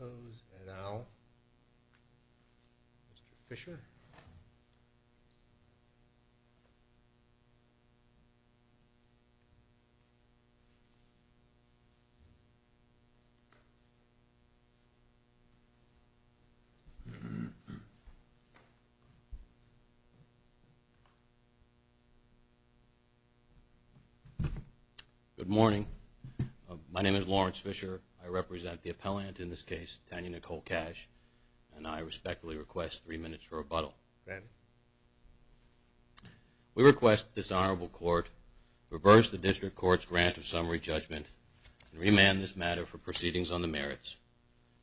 And now, Mr. Fischer. Good morning. My name is Lawrence Fischer. I represent the appellant in this case, Tanya Nicole Kach, and I respectfully request three minutes for rebuttal. We request that this honorable court reverse the district court's grant of summary judgment and remand this matter for proceedings on the merits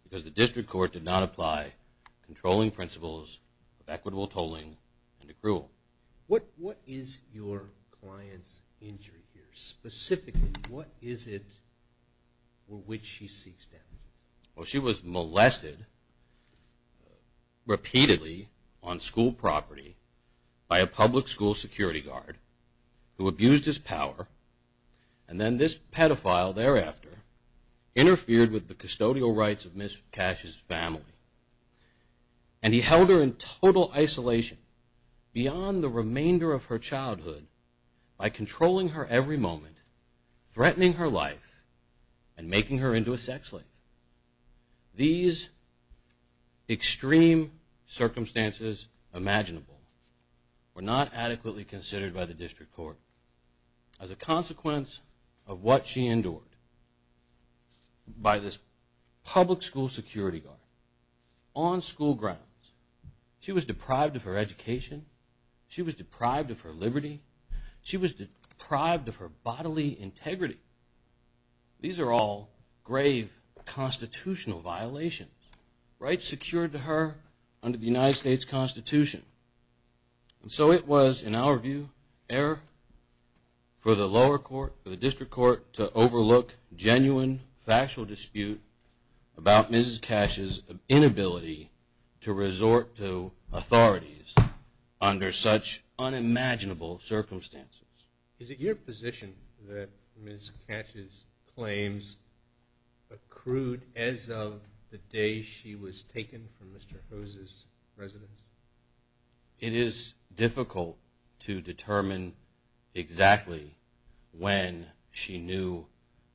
because the district court did not apply controlling principles of equitable tolling and accrual. What is your client's injury here? Specifically, what is it for which she seeks damages? Well, she was molested repeatedly on school property by a public school security guard who abused his power, and then this pedophile thereafter interfered with the custodial rights of Ms. Kach's family, and he held her in total isolation beyond the remainder of her childhood by controlling her every moment, threatening her life, and making her into a sex slave. These extreme circumstances, imaginable, were not adequately considered by the district court as a consequence of what she endured by this public school security guard on school grounds. She was deprived of her education. She was deprived of her liberty. She was deprived of her bodily integrity. These are all grave constitutional violations, rights secured to her under the United States Constitution. And so it was, in our view, error for the lower court, the district court, to overlook genuine factual dispute about Ms. Kach's inability to resort to authorities under such unimaginable circumstances. Is it your position that Ms. Kach's claims accrued as of the day she was taken from Mr. Hose's residence? It is difficult to determine exactly when she knew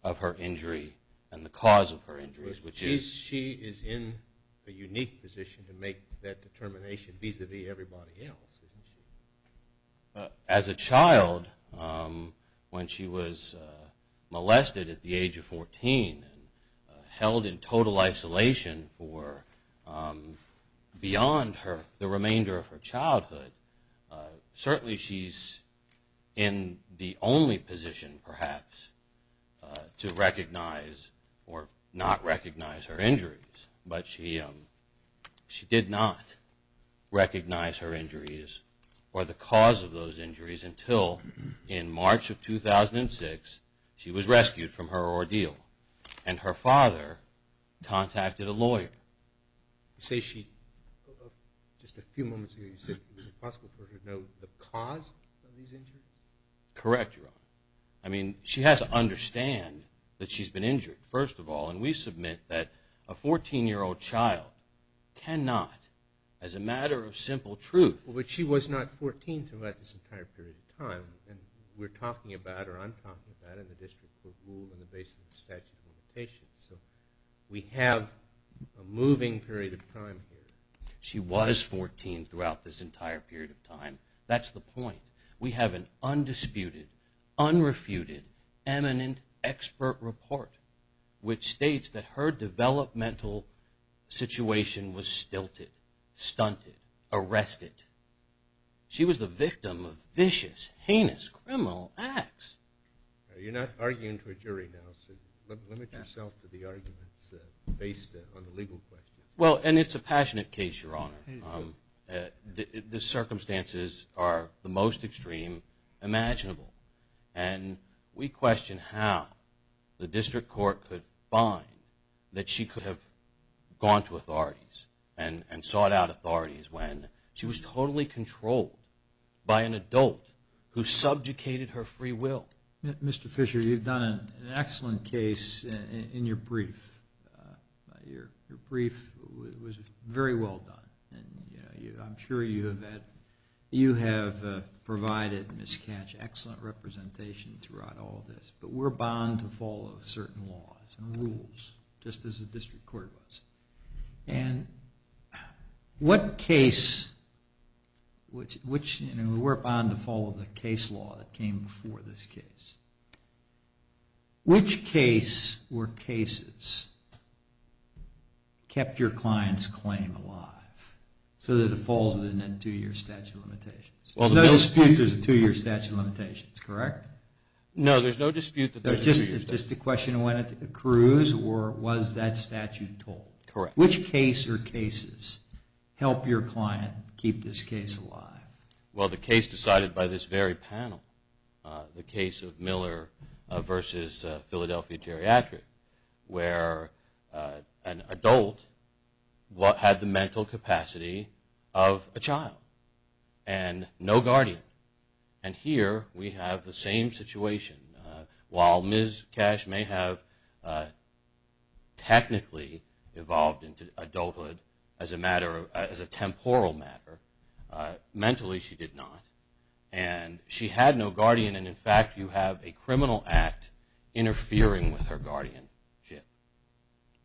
of her injury and the cause of her injuries, which is... She is in a unique position to make that determination vis-à-vis everybody else, isn't she? As a child, when she was molested at the age of 14 and held in total isolation for beyond the remainder of her childhood, certainly she's in the only position, perhaps, to recognize or not recognize her injuries. But she did not recognize her injuries or the cause of those injuries until, in March of 2006, she was rescued from her ordeal and her father contacted a lawyer. You say she... Just a few moments ago you said it was impossible for her to know the cause of these injuries? Correct, Your Honor. I mean, she has to understand that she's been injured, first of all, and we submit that a 14-year-old child cannot, as a matter of simple truth... We're talking about, or I'm talking about, in the District Court rule, in the basis of the statute of limitations. So we have a moving period of time here. She was 14 throughout this entire period of time. That's the point. We have an undisputed, unrefuted, eminent expert report which states that her developmental situation was stilted, stunted, arrested. She was the victim of vicious, heinous, criminal acts. You're not arguing to a jury now, so limit yourself to the arguments based on the legal questions. Well, and it's a passionate case, Your Honor. The circumstances are the most extreme imaginable. And we question how the District Court could find that she could have gone to authorities and sought out authorities when she was totally controlled by an adult who subjugated her free will. Mr. Fisher, you've done an excellent case in your brief. Your brief was very well done. I'm sure you have provided, Ms. Katch, excellent representation throughout all of this. But we're bound to follow certain laws and rules, just as the District Court was. And what case, and we're bound to follow the case law that came before this case, which case or cases kept your client's claim alive so that it falls within that two-year statute of limitations? There's no dispute there's a two-year statute of limitations, correct? No, there's no dispute that there's a two-year statute of limitations. It's just a question of whether it accrues or was that statute told? Correct. Which case or cases helped your client keep this case alive? Well, the case decided by this very panel, the case of Miller v. Philadelphia Geriatric, where an adult had the mental capacity of a child and no guardian. And here we have the same situation. While Ms. Katch may have technically evolved into adulthood as a temporal matter, mentally she did not. And she had no guardian and, in fact, you have a criminal act interfering with her guardianship.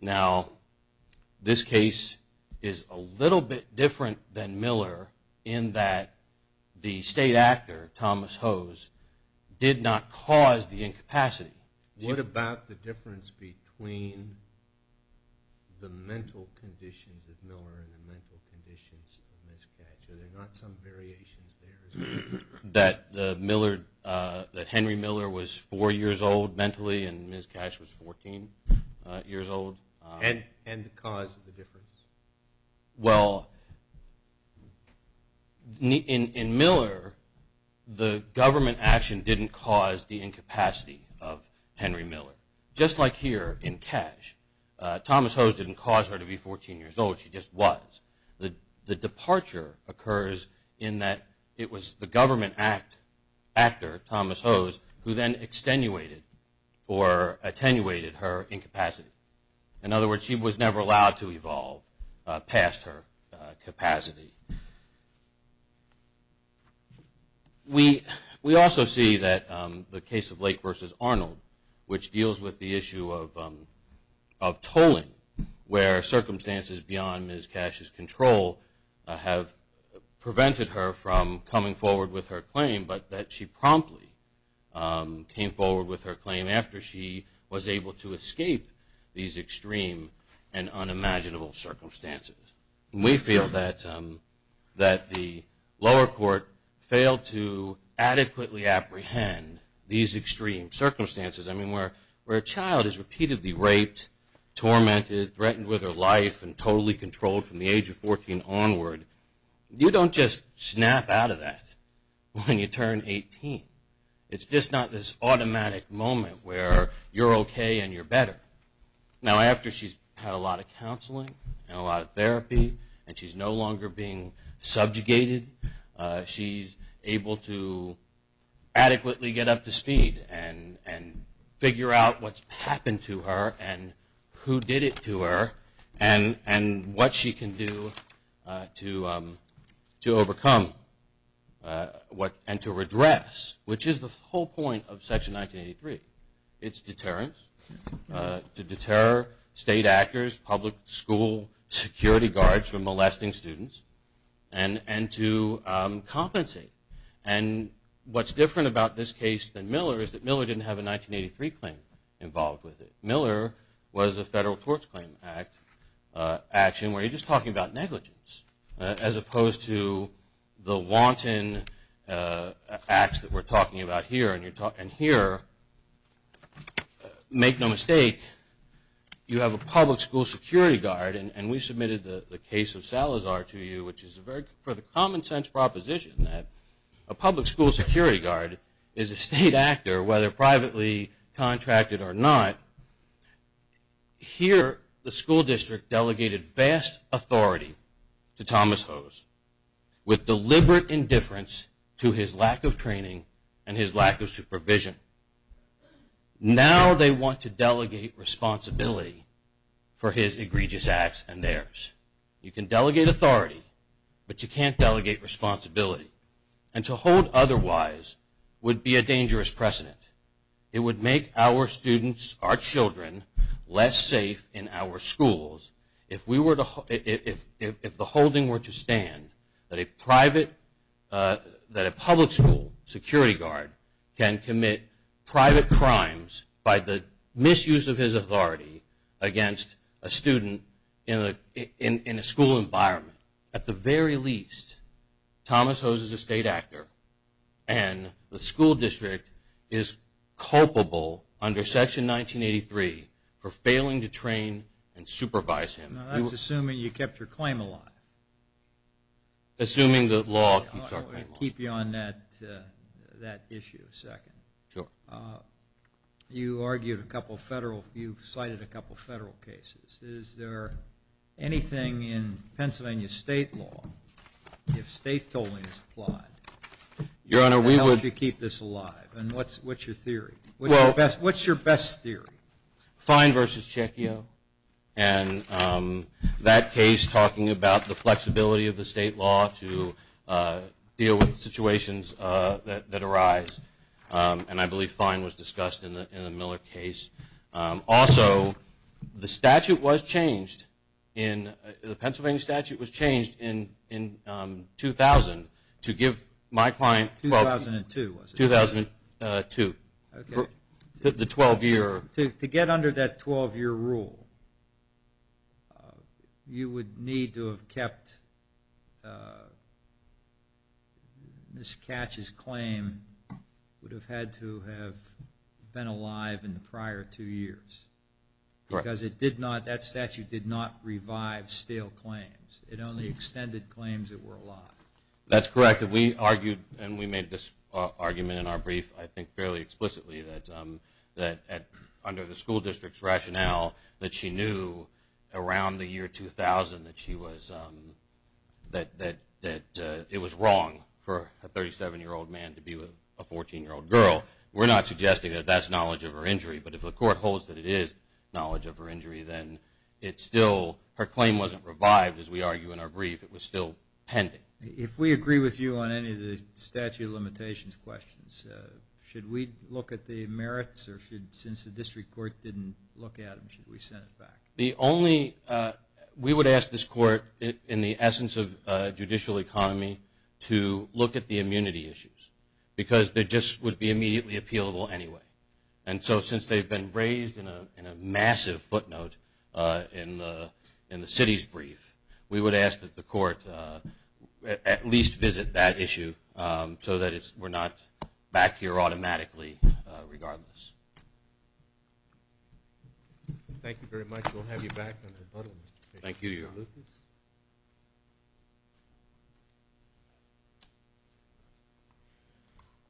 Now, this case is a little bit different than Miller in that the state actor, Thomas Hose, did not cause the incapacity. What about the difference between the mental conditions of Miller and the mental conditions of Ms. Katch? Are there not some variations there? That Henry Miller was four years old mentally and Ms. Katch was 14 years old? And the cause of the difference? Well, in Miller, the government action didn't cause the incapacity of Henry Miller. Just like here in Katch, Thomas Hose didn't cause her to be 14 years old. She just was. The departure occurs in that it was the government actor, Thomas Hose, who then extenuated or attenuated her incapacity. In other words, she was never allowed to evolve past her capacity. We also see that the case of Lake v. Arnold, which deals with the issue of tolling, where circumstances beyond Ms. Katch's control have prevented her from coming forward with her claim, but that she promptly came forward with her claim after she was able to escape these extreme and unimaginable circumstances. We feel that the lower court failed to adequately apprehend these extreme circumstances. I mean, where a child is repeatedly raped, tormented, threatened with her life, and totally controlled from the age of 14 onward, you don't just snap out of that when you turn 18. It's just not this automatic moment where you're okay and you're better. Now, after she's had a lot of counseling and a lot of therapy and she's no longer being subjugated, she's able to adequately get up to speed and figure out what's happened to her and who did it to her and what she can do to overcome and to redress, which is the whole point of Section 1983. It's deterrence, to deter state actors, public school security guards from molesting students, and to compensate. And what's different about this case than Miller is that Miller didn't have a 1983 claim involved with it. Miller was a federal torts claim action where you're just talking about negligence as opposed to the wanton acts that we're talking about here. And here, make no mistake, you have a public school security guard, and we submitted the case of Salazar to you, which is for the common sense proposition that a public school security guard is a state actor, whether privately contracted or not. Here, the school district delegated vast authority to Thomas Hose with deliberate indifference to his lack of training and his lack of supervision. Now they want to delegate responsibility for his egregious acts and theirs. You can delegate authority, but you can't delegate responsibility. And to hold otherwise would be a dangerous precedent. It would make our students, our children, less safe in our schools if the holding were to stand that a public school security guard can commit private crimes by the misuse of his authority against a student in a school environment. At the very least, Thomas Hose is a state actor, and the school district is culpable under Section 1983 for failing to train and supervise him. I was assuming you kept your claim a lot. Assuming the law keeps our claim a lot. I want to keep you on that issue a second. Sure. You cited a couple of federal cases. Is there anything in Pennsylvania state law, if state tolling is applied, that helps you keep this alive? And what's your theory? What's your best theory? Fine versus Checkio, and that case talking about the flexibility of the state law to deal with situations that arise. And I believe fine was discussed in the Miller case. Also, the statute was changed. The Pennsylvania statute was changed in 2000 to give my client- 2002, was it? 2002. The 12 year- Ms. Katch's claim would have had to have been alive in the prior two years. Correct. Because it did not-that statute did not revive stale claims. It only extended claims that were alive. That's correct. We argued, and we made this argument in our brief, I think, fairly explicitly, that under the school district's rationale, that she knew around the year 2000 that it was wrong for a 37-year-old man to be with a 14-year-old girl. We're not suggesting that that's knowledge of her injury, but if the court holds that it is knowledge of her injury, then it's still-her claim wasn't revived, as we argue in our brief. It was still pending. If we agree with you on any of the statute of limitations questions, should we look at the merits, or should-since the district court didn't look at them, should we send it back? The only-we would ask this court, in the essence of judicial economy, to look at the immunity issues, because they just would be immediately appealable anyway. And so since they've been raised in a massive footnote in the city's brief, we would ask that the court at least visit that issue so that it's-we're not back here automatically regardless. Thank you very much. We'll have you back on rebuttal. Thank you, Your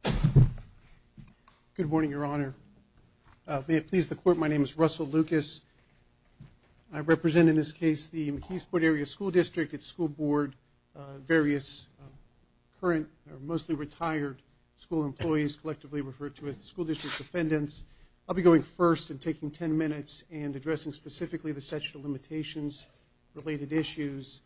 Honor. Good morning, Your Honor. May it please the court, my name is Russell Lucas. I represent, in this case, the McKeesport Area School District, its school board, various current or mostly retired school employees, collectively referred to as the school district's defendants. I'll be going first and taking ten minutes and addressing specifically the statute of limitations-related issues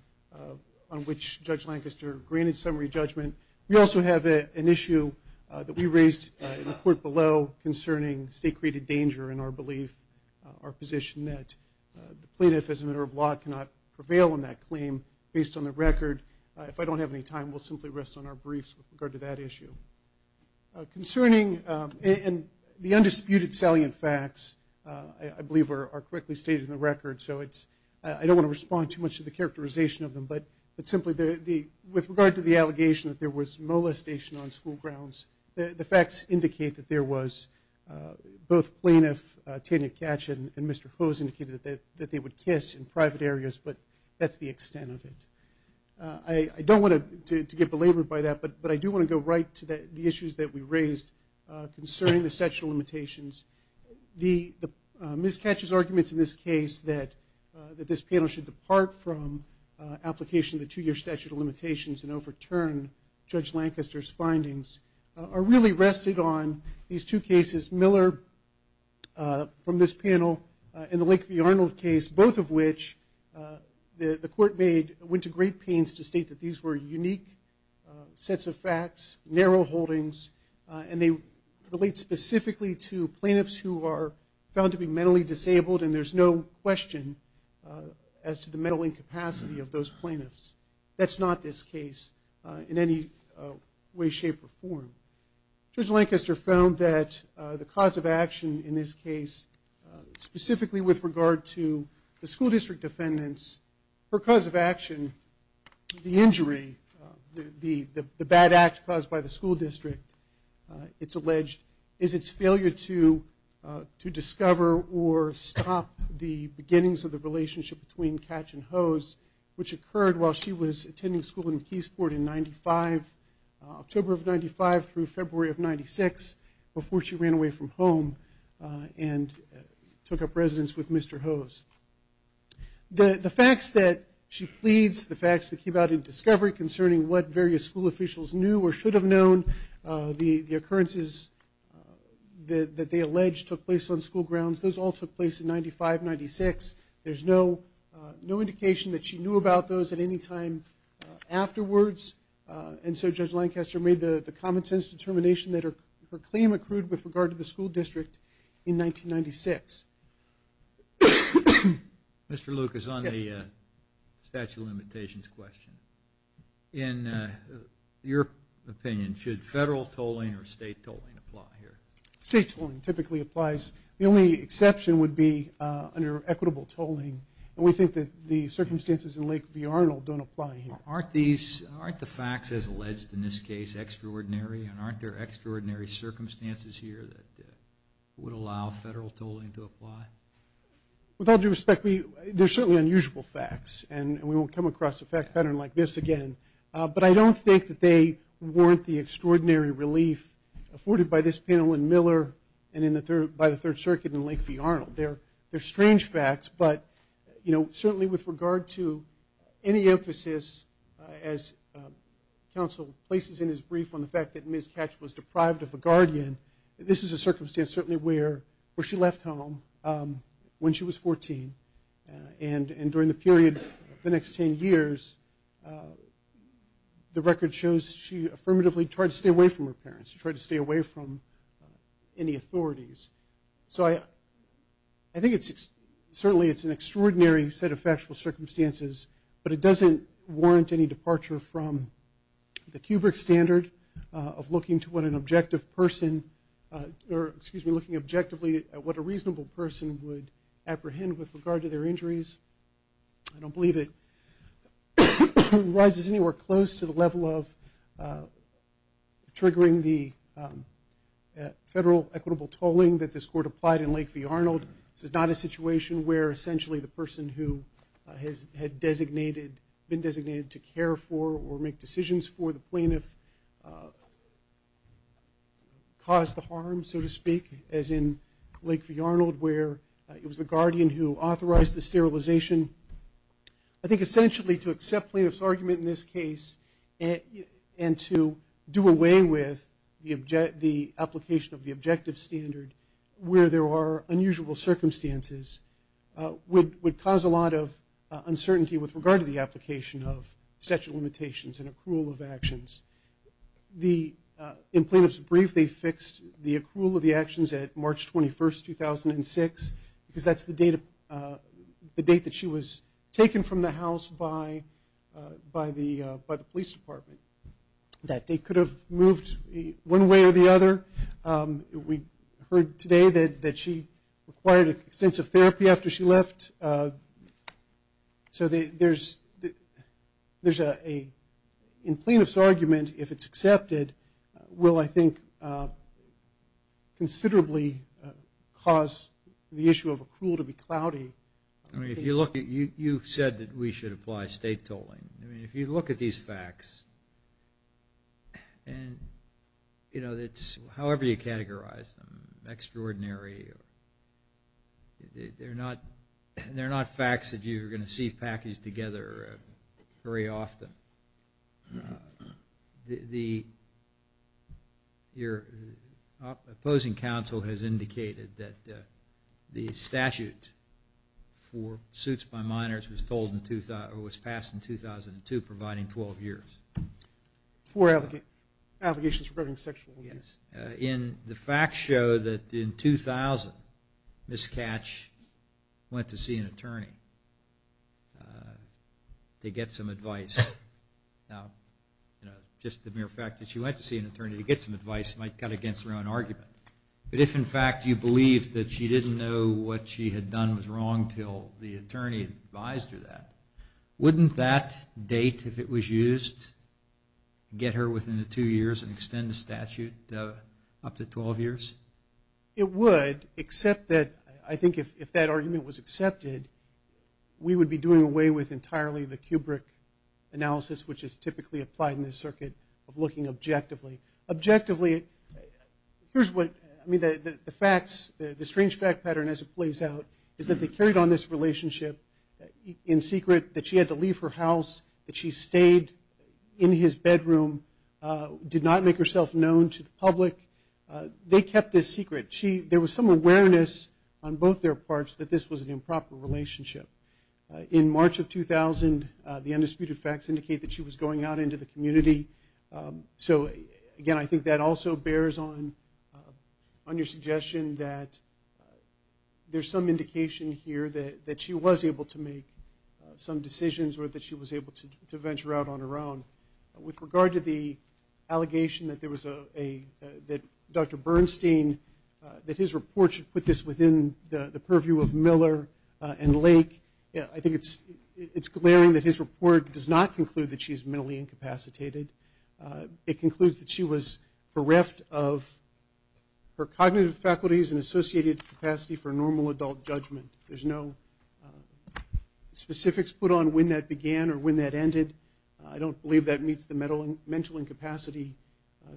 on which Judge Lancaster granted summary judgment. We also have an issue that we raised in the court below concerning state-created danger in our belief, our position that the plaintiff, as a matter of law, cannot prevail on that claim. Based on the record, if I don't have any time, we'll simply rest on our briefs with regard to that issue. Concerning-and the undisputed salient facts, I believe, are correctly stated in the record, so it's-I don't want to respond too much to the characterization of them, but simply the-with regard to the allegation that there was molestation on school grounds, the facts indicate that there was. Both Plaintiff Tanya Katchen and Mr. Hose indicated that they would kiss in private areas, but that's the extent of it. I don't want to get belabored by that, but I do want to go right to the issues that we raised concerning the statute of limitations. The-Ms. Katchen's arguments in this case, of the two-year statute of limitations and overturn Judge Lancaster's findings, are really rested on these two cases, Miller from this panel and the Lakeview-Arnold case, both of which the court made-went to great pains to state that these were unique sets of facts, narrow holdings, and they relate specifically to plaintiffs who are found to be mentally disabled, and there's no question as to the mental incapacity of those plaintiffs. That's not this case in any way, shape, or form. Judge Lancaster found that the cause of action in this case, specifically with regard to the school district defendants, her cause of action, the injury, the bad act caused by the school district, it's alleged, is its failure to discover or stop the beginnings of the relationship between Katchen and Hose, which occurred while she was attending school in Keysport in October of 95 through February of 96, before she ran away from home and took up residence with Mr. Hose. The facts that she pleads, the facts that keep out in discovery concerning what various school officials knew or should have known, the occurrences that they allege took place on school grounds, those all took place in 95, 96. There's no indication that she knew about those at any time afterwards, and so Judge Lancaster made the common-sense determination that her claim accrued with regard to the school district in 1996. Mr. Luke, it's on the statute of limitations question. In your opinion, should federal tolling or state tolling apply here? State tolling typically applies. The only exception would be under equitable tolling, and we think that the circumstances in Lakeview-Arnold don't apply here. Aren't the facts, as alleged in this case, extraordinary, and aren't there extraordinary circumstances here that would allow federal tolling to apply? With all due respect, there are certainly unusual facts, and we won't come across a fact pattern like this again, but I don't think that they warrant the extraordinary relief afforded by this panel in Miller and by the Third Circuit in Lakeview-Arnold. They're strange facts, but, you know, certainly with regard to any emphasis, as counsel places in his brief on the fact that Ms. Katch was deprived of a guardian, this is a circumstance certainly where she left home when she was 14, and during the period of the next 10 years, the record shows she affirmatively tried to stay away from her parents, tried to stay away from any authorities. So I think it's certainly an extraordinary set of factual circumstances, but it doesn't warrant any departure from the Kubrick standard of looking to what an objective person or, excuse me, looking objectively at what a reasonable person would apprehend with regard to their injuries. I don't believe it rises anywhere close to the level of triggering the federal equitable tolling that this Court applied in Lakeview-Arnold. This is not a situation where essentially the person who had been designated to care for or make decisions for the plaintiff caused the harm, so to speak, as in Lakeview-Arnold, where it was the guardian who authorized the sterilization. I think essentially to accept plaintiff's argument in this case and to do away with the application of the objective standard where there are unusual circumstances would cause a lot of uncertainty with regard to the application of statute of limitations and accrual of actions. In plaintiff's brief, they fixed the accrual of the actions at March 21, 2006, because that's the date that she was taken from the house by the police department. That date could have moved one way or the other. We heard today that she required extensive therapy after she left. So in plaintiff's argument, if it's accepted, will, I think, considerably cause the issue of accrual to be cloudy. You said that we should apply state tolling. If you look at these facts, however you categorize them, extraordinary, they're not facts that you're going to see packaged together very often. Your opposing counsel has indicated that the statute for suits by minors was passed in 2002, providing 12 years. Four allegations regarding sexual abuse. The facts show that in 2000, Ms. Katch went to see an attorney to get some advice. Now, just the mere fact that she went to see an attorney to get some advice might cut against her own argument. But if, in fact, you believe that she didn't know what she had done was wrong until the attorney advised her that, wouldn't that date, if it was used, get her within the two years and extend the statute up to 12 years? It would, except that I think if that argument was accepted, we would be doing away with entirely the Kubrick analysis, which is typically applied in this circuit, of looking objectively. Objectively, here's what the facts, the strange fact pattern as it plays out, is that they carried on this relationship in secret, that she had to leave her house, that she stayed in his bedroom, did not make herself known to the public. They kept this secret. There was some awareness on both their parts that this was an improper relationship. In March of 2000, the undisputed facts indicate that she was going out into the community. So, again, I think that also bears on your suggestion that there's some indication here that she was able to make some decisions or that she was able to venture out on her own. With regard to the allegation that Dr. Bernstein, that his report should put this within the purview of Miller and Lake, I think it's glaring that his report does not conclude that she's mentally incapacitated. It concludes that she was bereft of her cognitive faculties and associated capacity for normal adult judgment. There's no specifics put on when that began or when that ended. I don't believe that meets the mental incapacity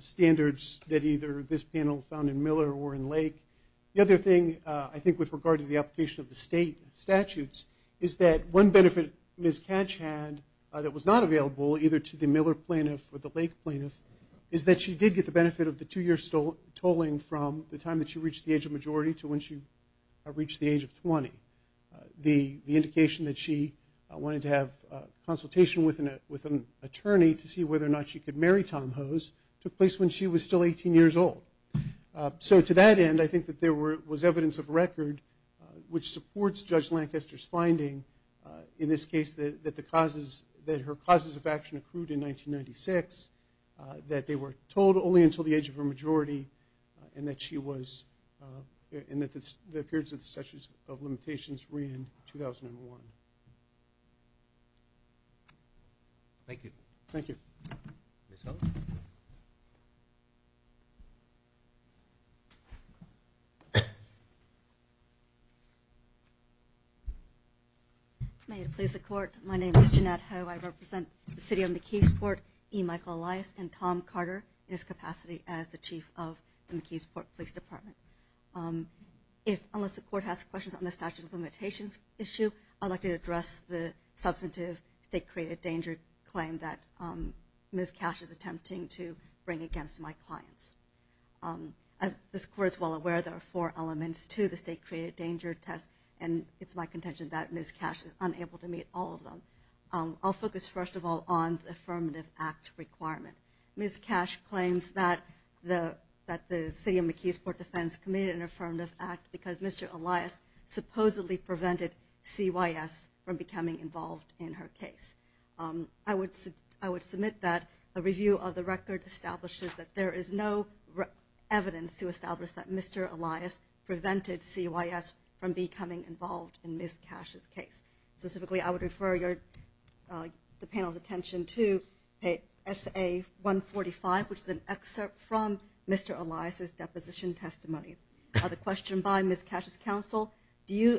standards that either this panel found in Miller or in Lake. The other thing, I think, with regard to the application of the state statutes, is that one benefit Ms. Katch had that was not available either to the Miller plaintiff or the Lake plaintiff is that she did get the benefit of the two-year tolling from the time that she reached the age of majority to when she reached the age of 20. The indication that she wanted to have consultation with an attorney to see whether or not she could marry Tom Hose took place when she was still 18 years old. So to that end, I think that there was evidence of record which supports Judge Lancaster's finding, in this case, that her causes of action accrued in 1996, that they were told only until the age of her majority, and that the periods of limitations were in 2001. Thank you. Thank you. May it please the Court, my name is Jeanette Ho. I represent the City of McKeesport, E. Michael Elias, and Tom Carter, in his capacity as the Chief of the McKeesport Police Department. Unless the Court has questions on the statute of limitations issue, I'd like to address the substantive state-created danger claim that Ms. Katch is attempting to bring against my clients. As this Court is well aware, there are four elements to the state-created danger test, and it's my contention that Ms. Katch is unable to meet all of them. I'll focus first of all on the Affirmative Act requirement. Ms. Katch claims that the City of McKeesport Defense committed an Affirmative Act because Mr. Elias supposedly prevented CYS from becoming involved in her case. I would submit that a review of the record establishes that there is no evidence to establish that Mr. Elias prevented CYS from becoming involved in Ms. Katch's case. Specifically, I would refer the panel's attention to SA-145, which is an excerpt from Mr. Elias' deposition testimony. The question by Ms. Katch's counsel, do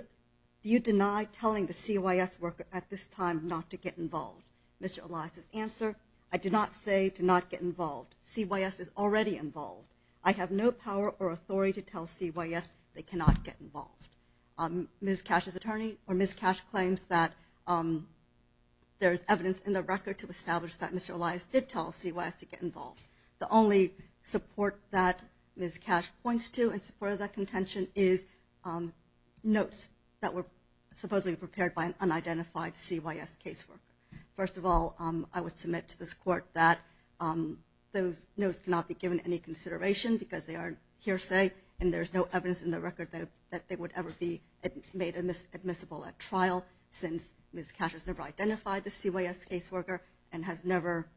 you deny telling the CYS worker at this time not to get involved? Mr. Elias' answer, I do not say to not get involved. CYS is already involved. I have no power or authority to tell CYS they cannot get involved. Ms. Katch's attorney or Ms. Katch claims that there is evidence in the record to establish that Mr. Elias did tell CYS to get involved. The only support that Ms. Katch points to in support of that contention is notes that were supposedly prepared by an unidentified CYS caseworker. First of all, I would submit to this Court that those notes cannot be given any consideration because they are hearsay and there is no evidence in the record that they would ever be made admissible at trial since Ms. Katch has never identified the CYS caseworker and has never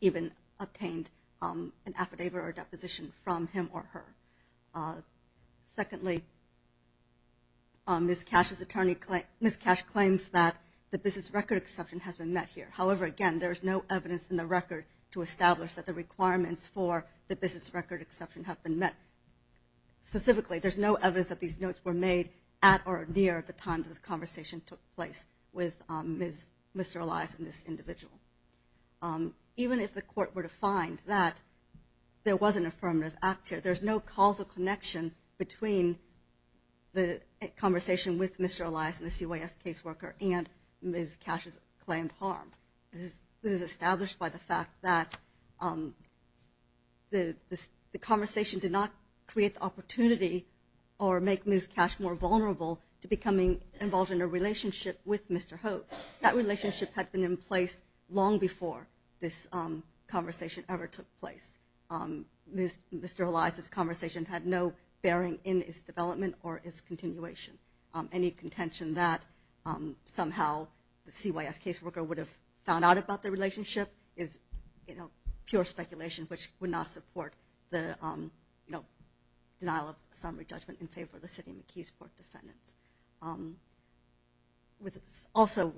even obtained an affidavit or a deposition from him or her. Secondly, Ms. Katch claims that the business record exception has been met here. to establish that the requirements for the business record exception have been met. Specifically, there is no evidence that these notes were made at or near the time that the conversation took place with Mr. Elias and this individual. Even if the Court were to find that there was an affirmative act here, there is no causal connection between the conversation with Mr. Elias and the CYS caseworker and Ms. Katch's claimed harm. This is established by the fact that the conversation did not create the opportunity or make Ms. Katch more vulnerable to becoming involved in a relationship with Mr. Hodes. That relationship had been in place long before this conversation ever took place. Mr. Elias' conversation had no bearing in its development or its continuation. Any contention that somehow the CYS caseworker would have found out about the relationship is pure speculation which would not support the denial of summary judgment in favor of the City of McKee's Court defendants. Also,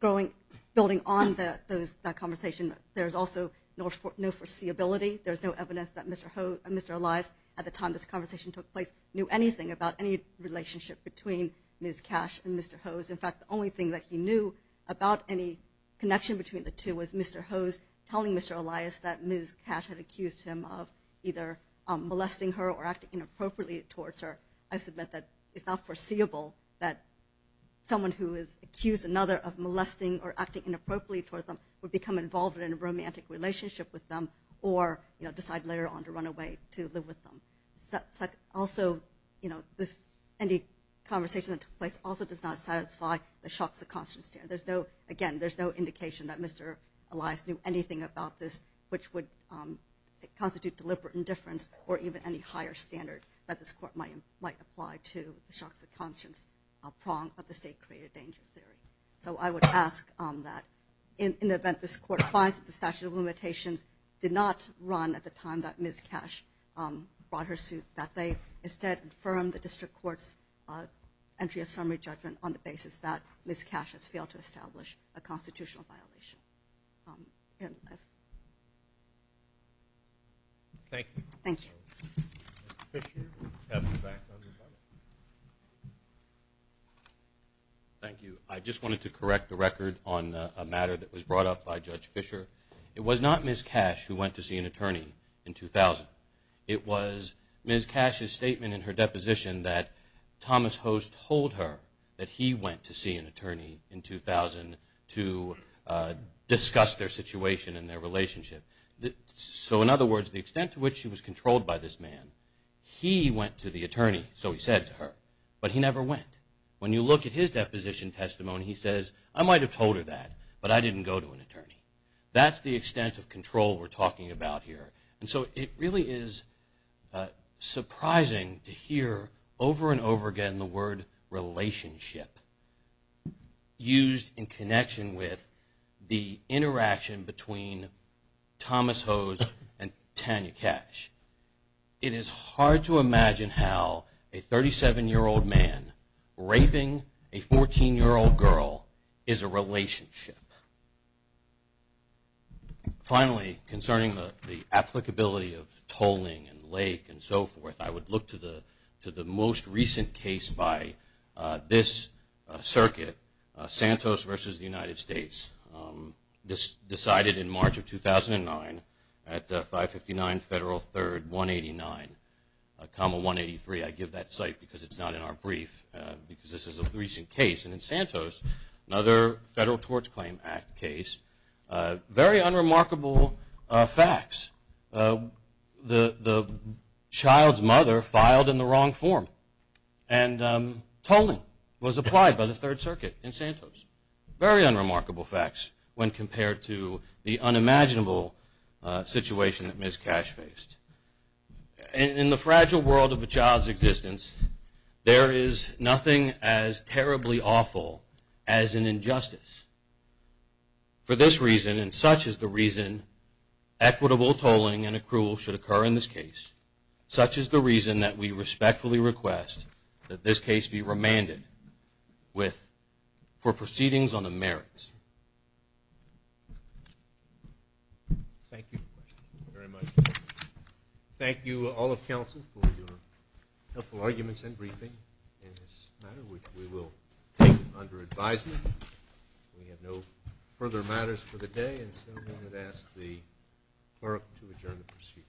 building on that conversation, there is also no foreseeability. There is no evidence that Mr. Elias, at the time this conversation took place, knew anything about any relationship between Ms. Katch and Mr. Hodes. In fact, the only thing that he knew about any connection between the two was Mr. Hodes telling Mr. Elias that Ms. Katch had accused him of either molesting her or acting inappropriately towards her. I submit that it's not foreseeable that someone who has accused another of molesting or acting inappropriately towards them would become involved in a romantic relationship with them or decide later on to run away to live with them. Also, any conversation that took place also does not satisfy the shocks of conscience. Again, there's no indication that Mr. Elias knew anything about this which would constitute deliberate indifference or even any higher standard that this Court might apply to the shocks of conscience prong of the state-created danger theory. So I would ask that in the event this Court finds that the statute of limitations did not run at the time that Ms. Katch brought her suit, that they instead affirm the District Court's entry of summary judgment on the basis that Ms. Katch has failed to establish a constitutional violation. Thank you. Thank you. I just wanted to correct the record on a matter that was brought up by Judge Fisher. It was not Ms. Katch who went to see an attorney in 2000. It was Ms. Katch's statement in her deposition that Thomas Hose told her that he went to see an attorney in 2000 to discuss their situation and their relationship. So in other words, the extent to which she was controlled by this man, he went to the attorney, so he said to her, but he never went. When you look at his deposition testimony, he says, I might have told her that, but I didn't go to an attorney. That's the extent of control we're talking about here. So it really is surprising to hear over and over again the word relationship used in connection with the interaction between Thomas Hose and Tanya Katch. It is hard to imagine how a 37-year-old man raping a 14-year-old girl is a relationship. Finally, concerning the applicability of tolling and lake and so forth, I would look to the most recent case by this circuit, Santos v. United States. This was decided in March of 2009 at 559 Federal 3rd 189, 183. I give that site because it's not in our brief because this is a recent case. In Santos, another Federal Tort Claim Act case, very unremarkable facts. The child's mother filed in the wrong form and tolling was applied by the Third Circuit in Santos. Very unremarkable facts when compared to the unimaginable situation that Ms. Katch faced. In the fragile world of a child's existence, there is nothing as terribly awful as an injustice. For this reason, and such is the reason equitable tolling and accrual should occur in this case, such is the reason that we respectfully request that this case be remanded for proceedings on the merits. Thank you very much. Thank you all of counsel for your helpful arguments and briefing in this matter, which we will take under advisement. We have no further matters for the day. And so I'm going to ask the clerk to adjourn the proceeding.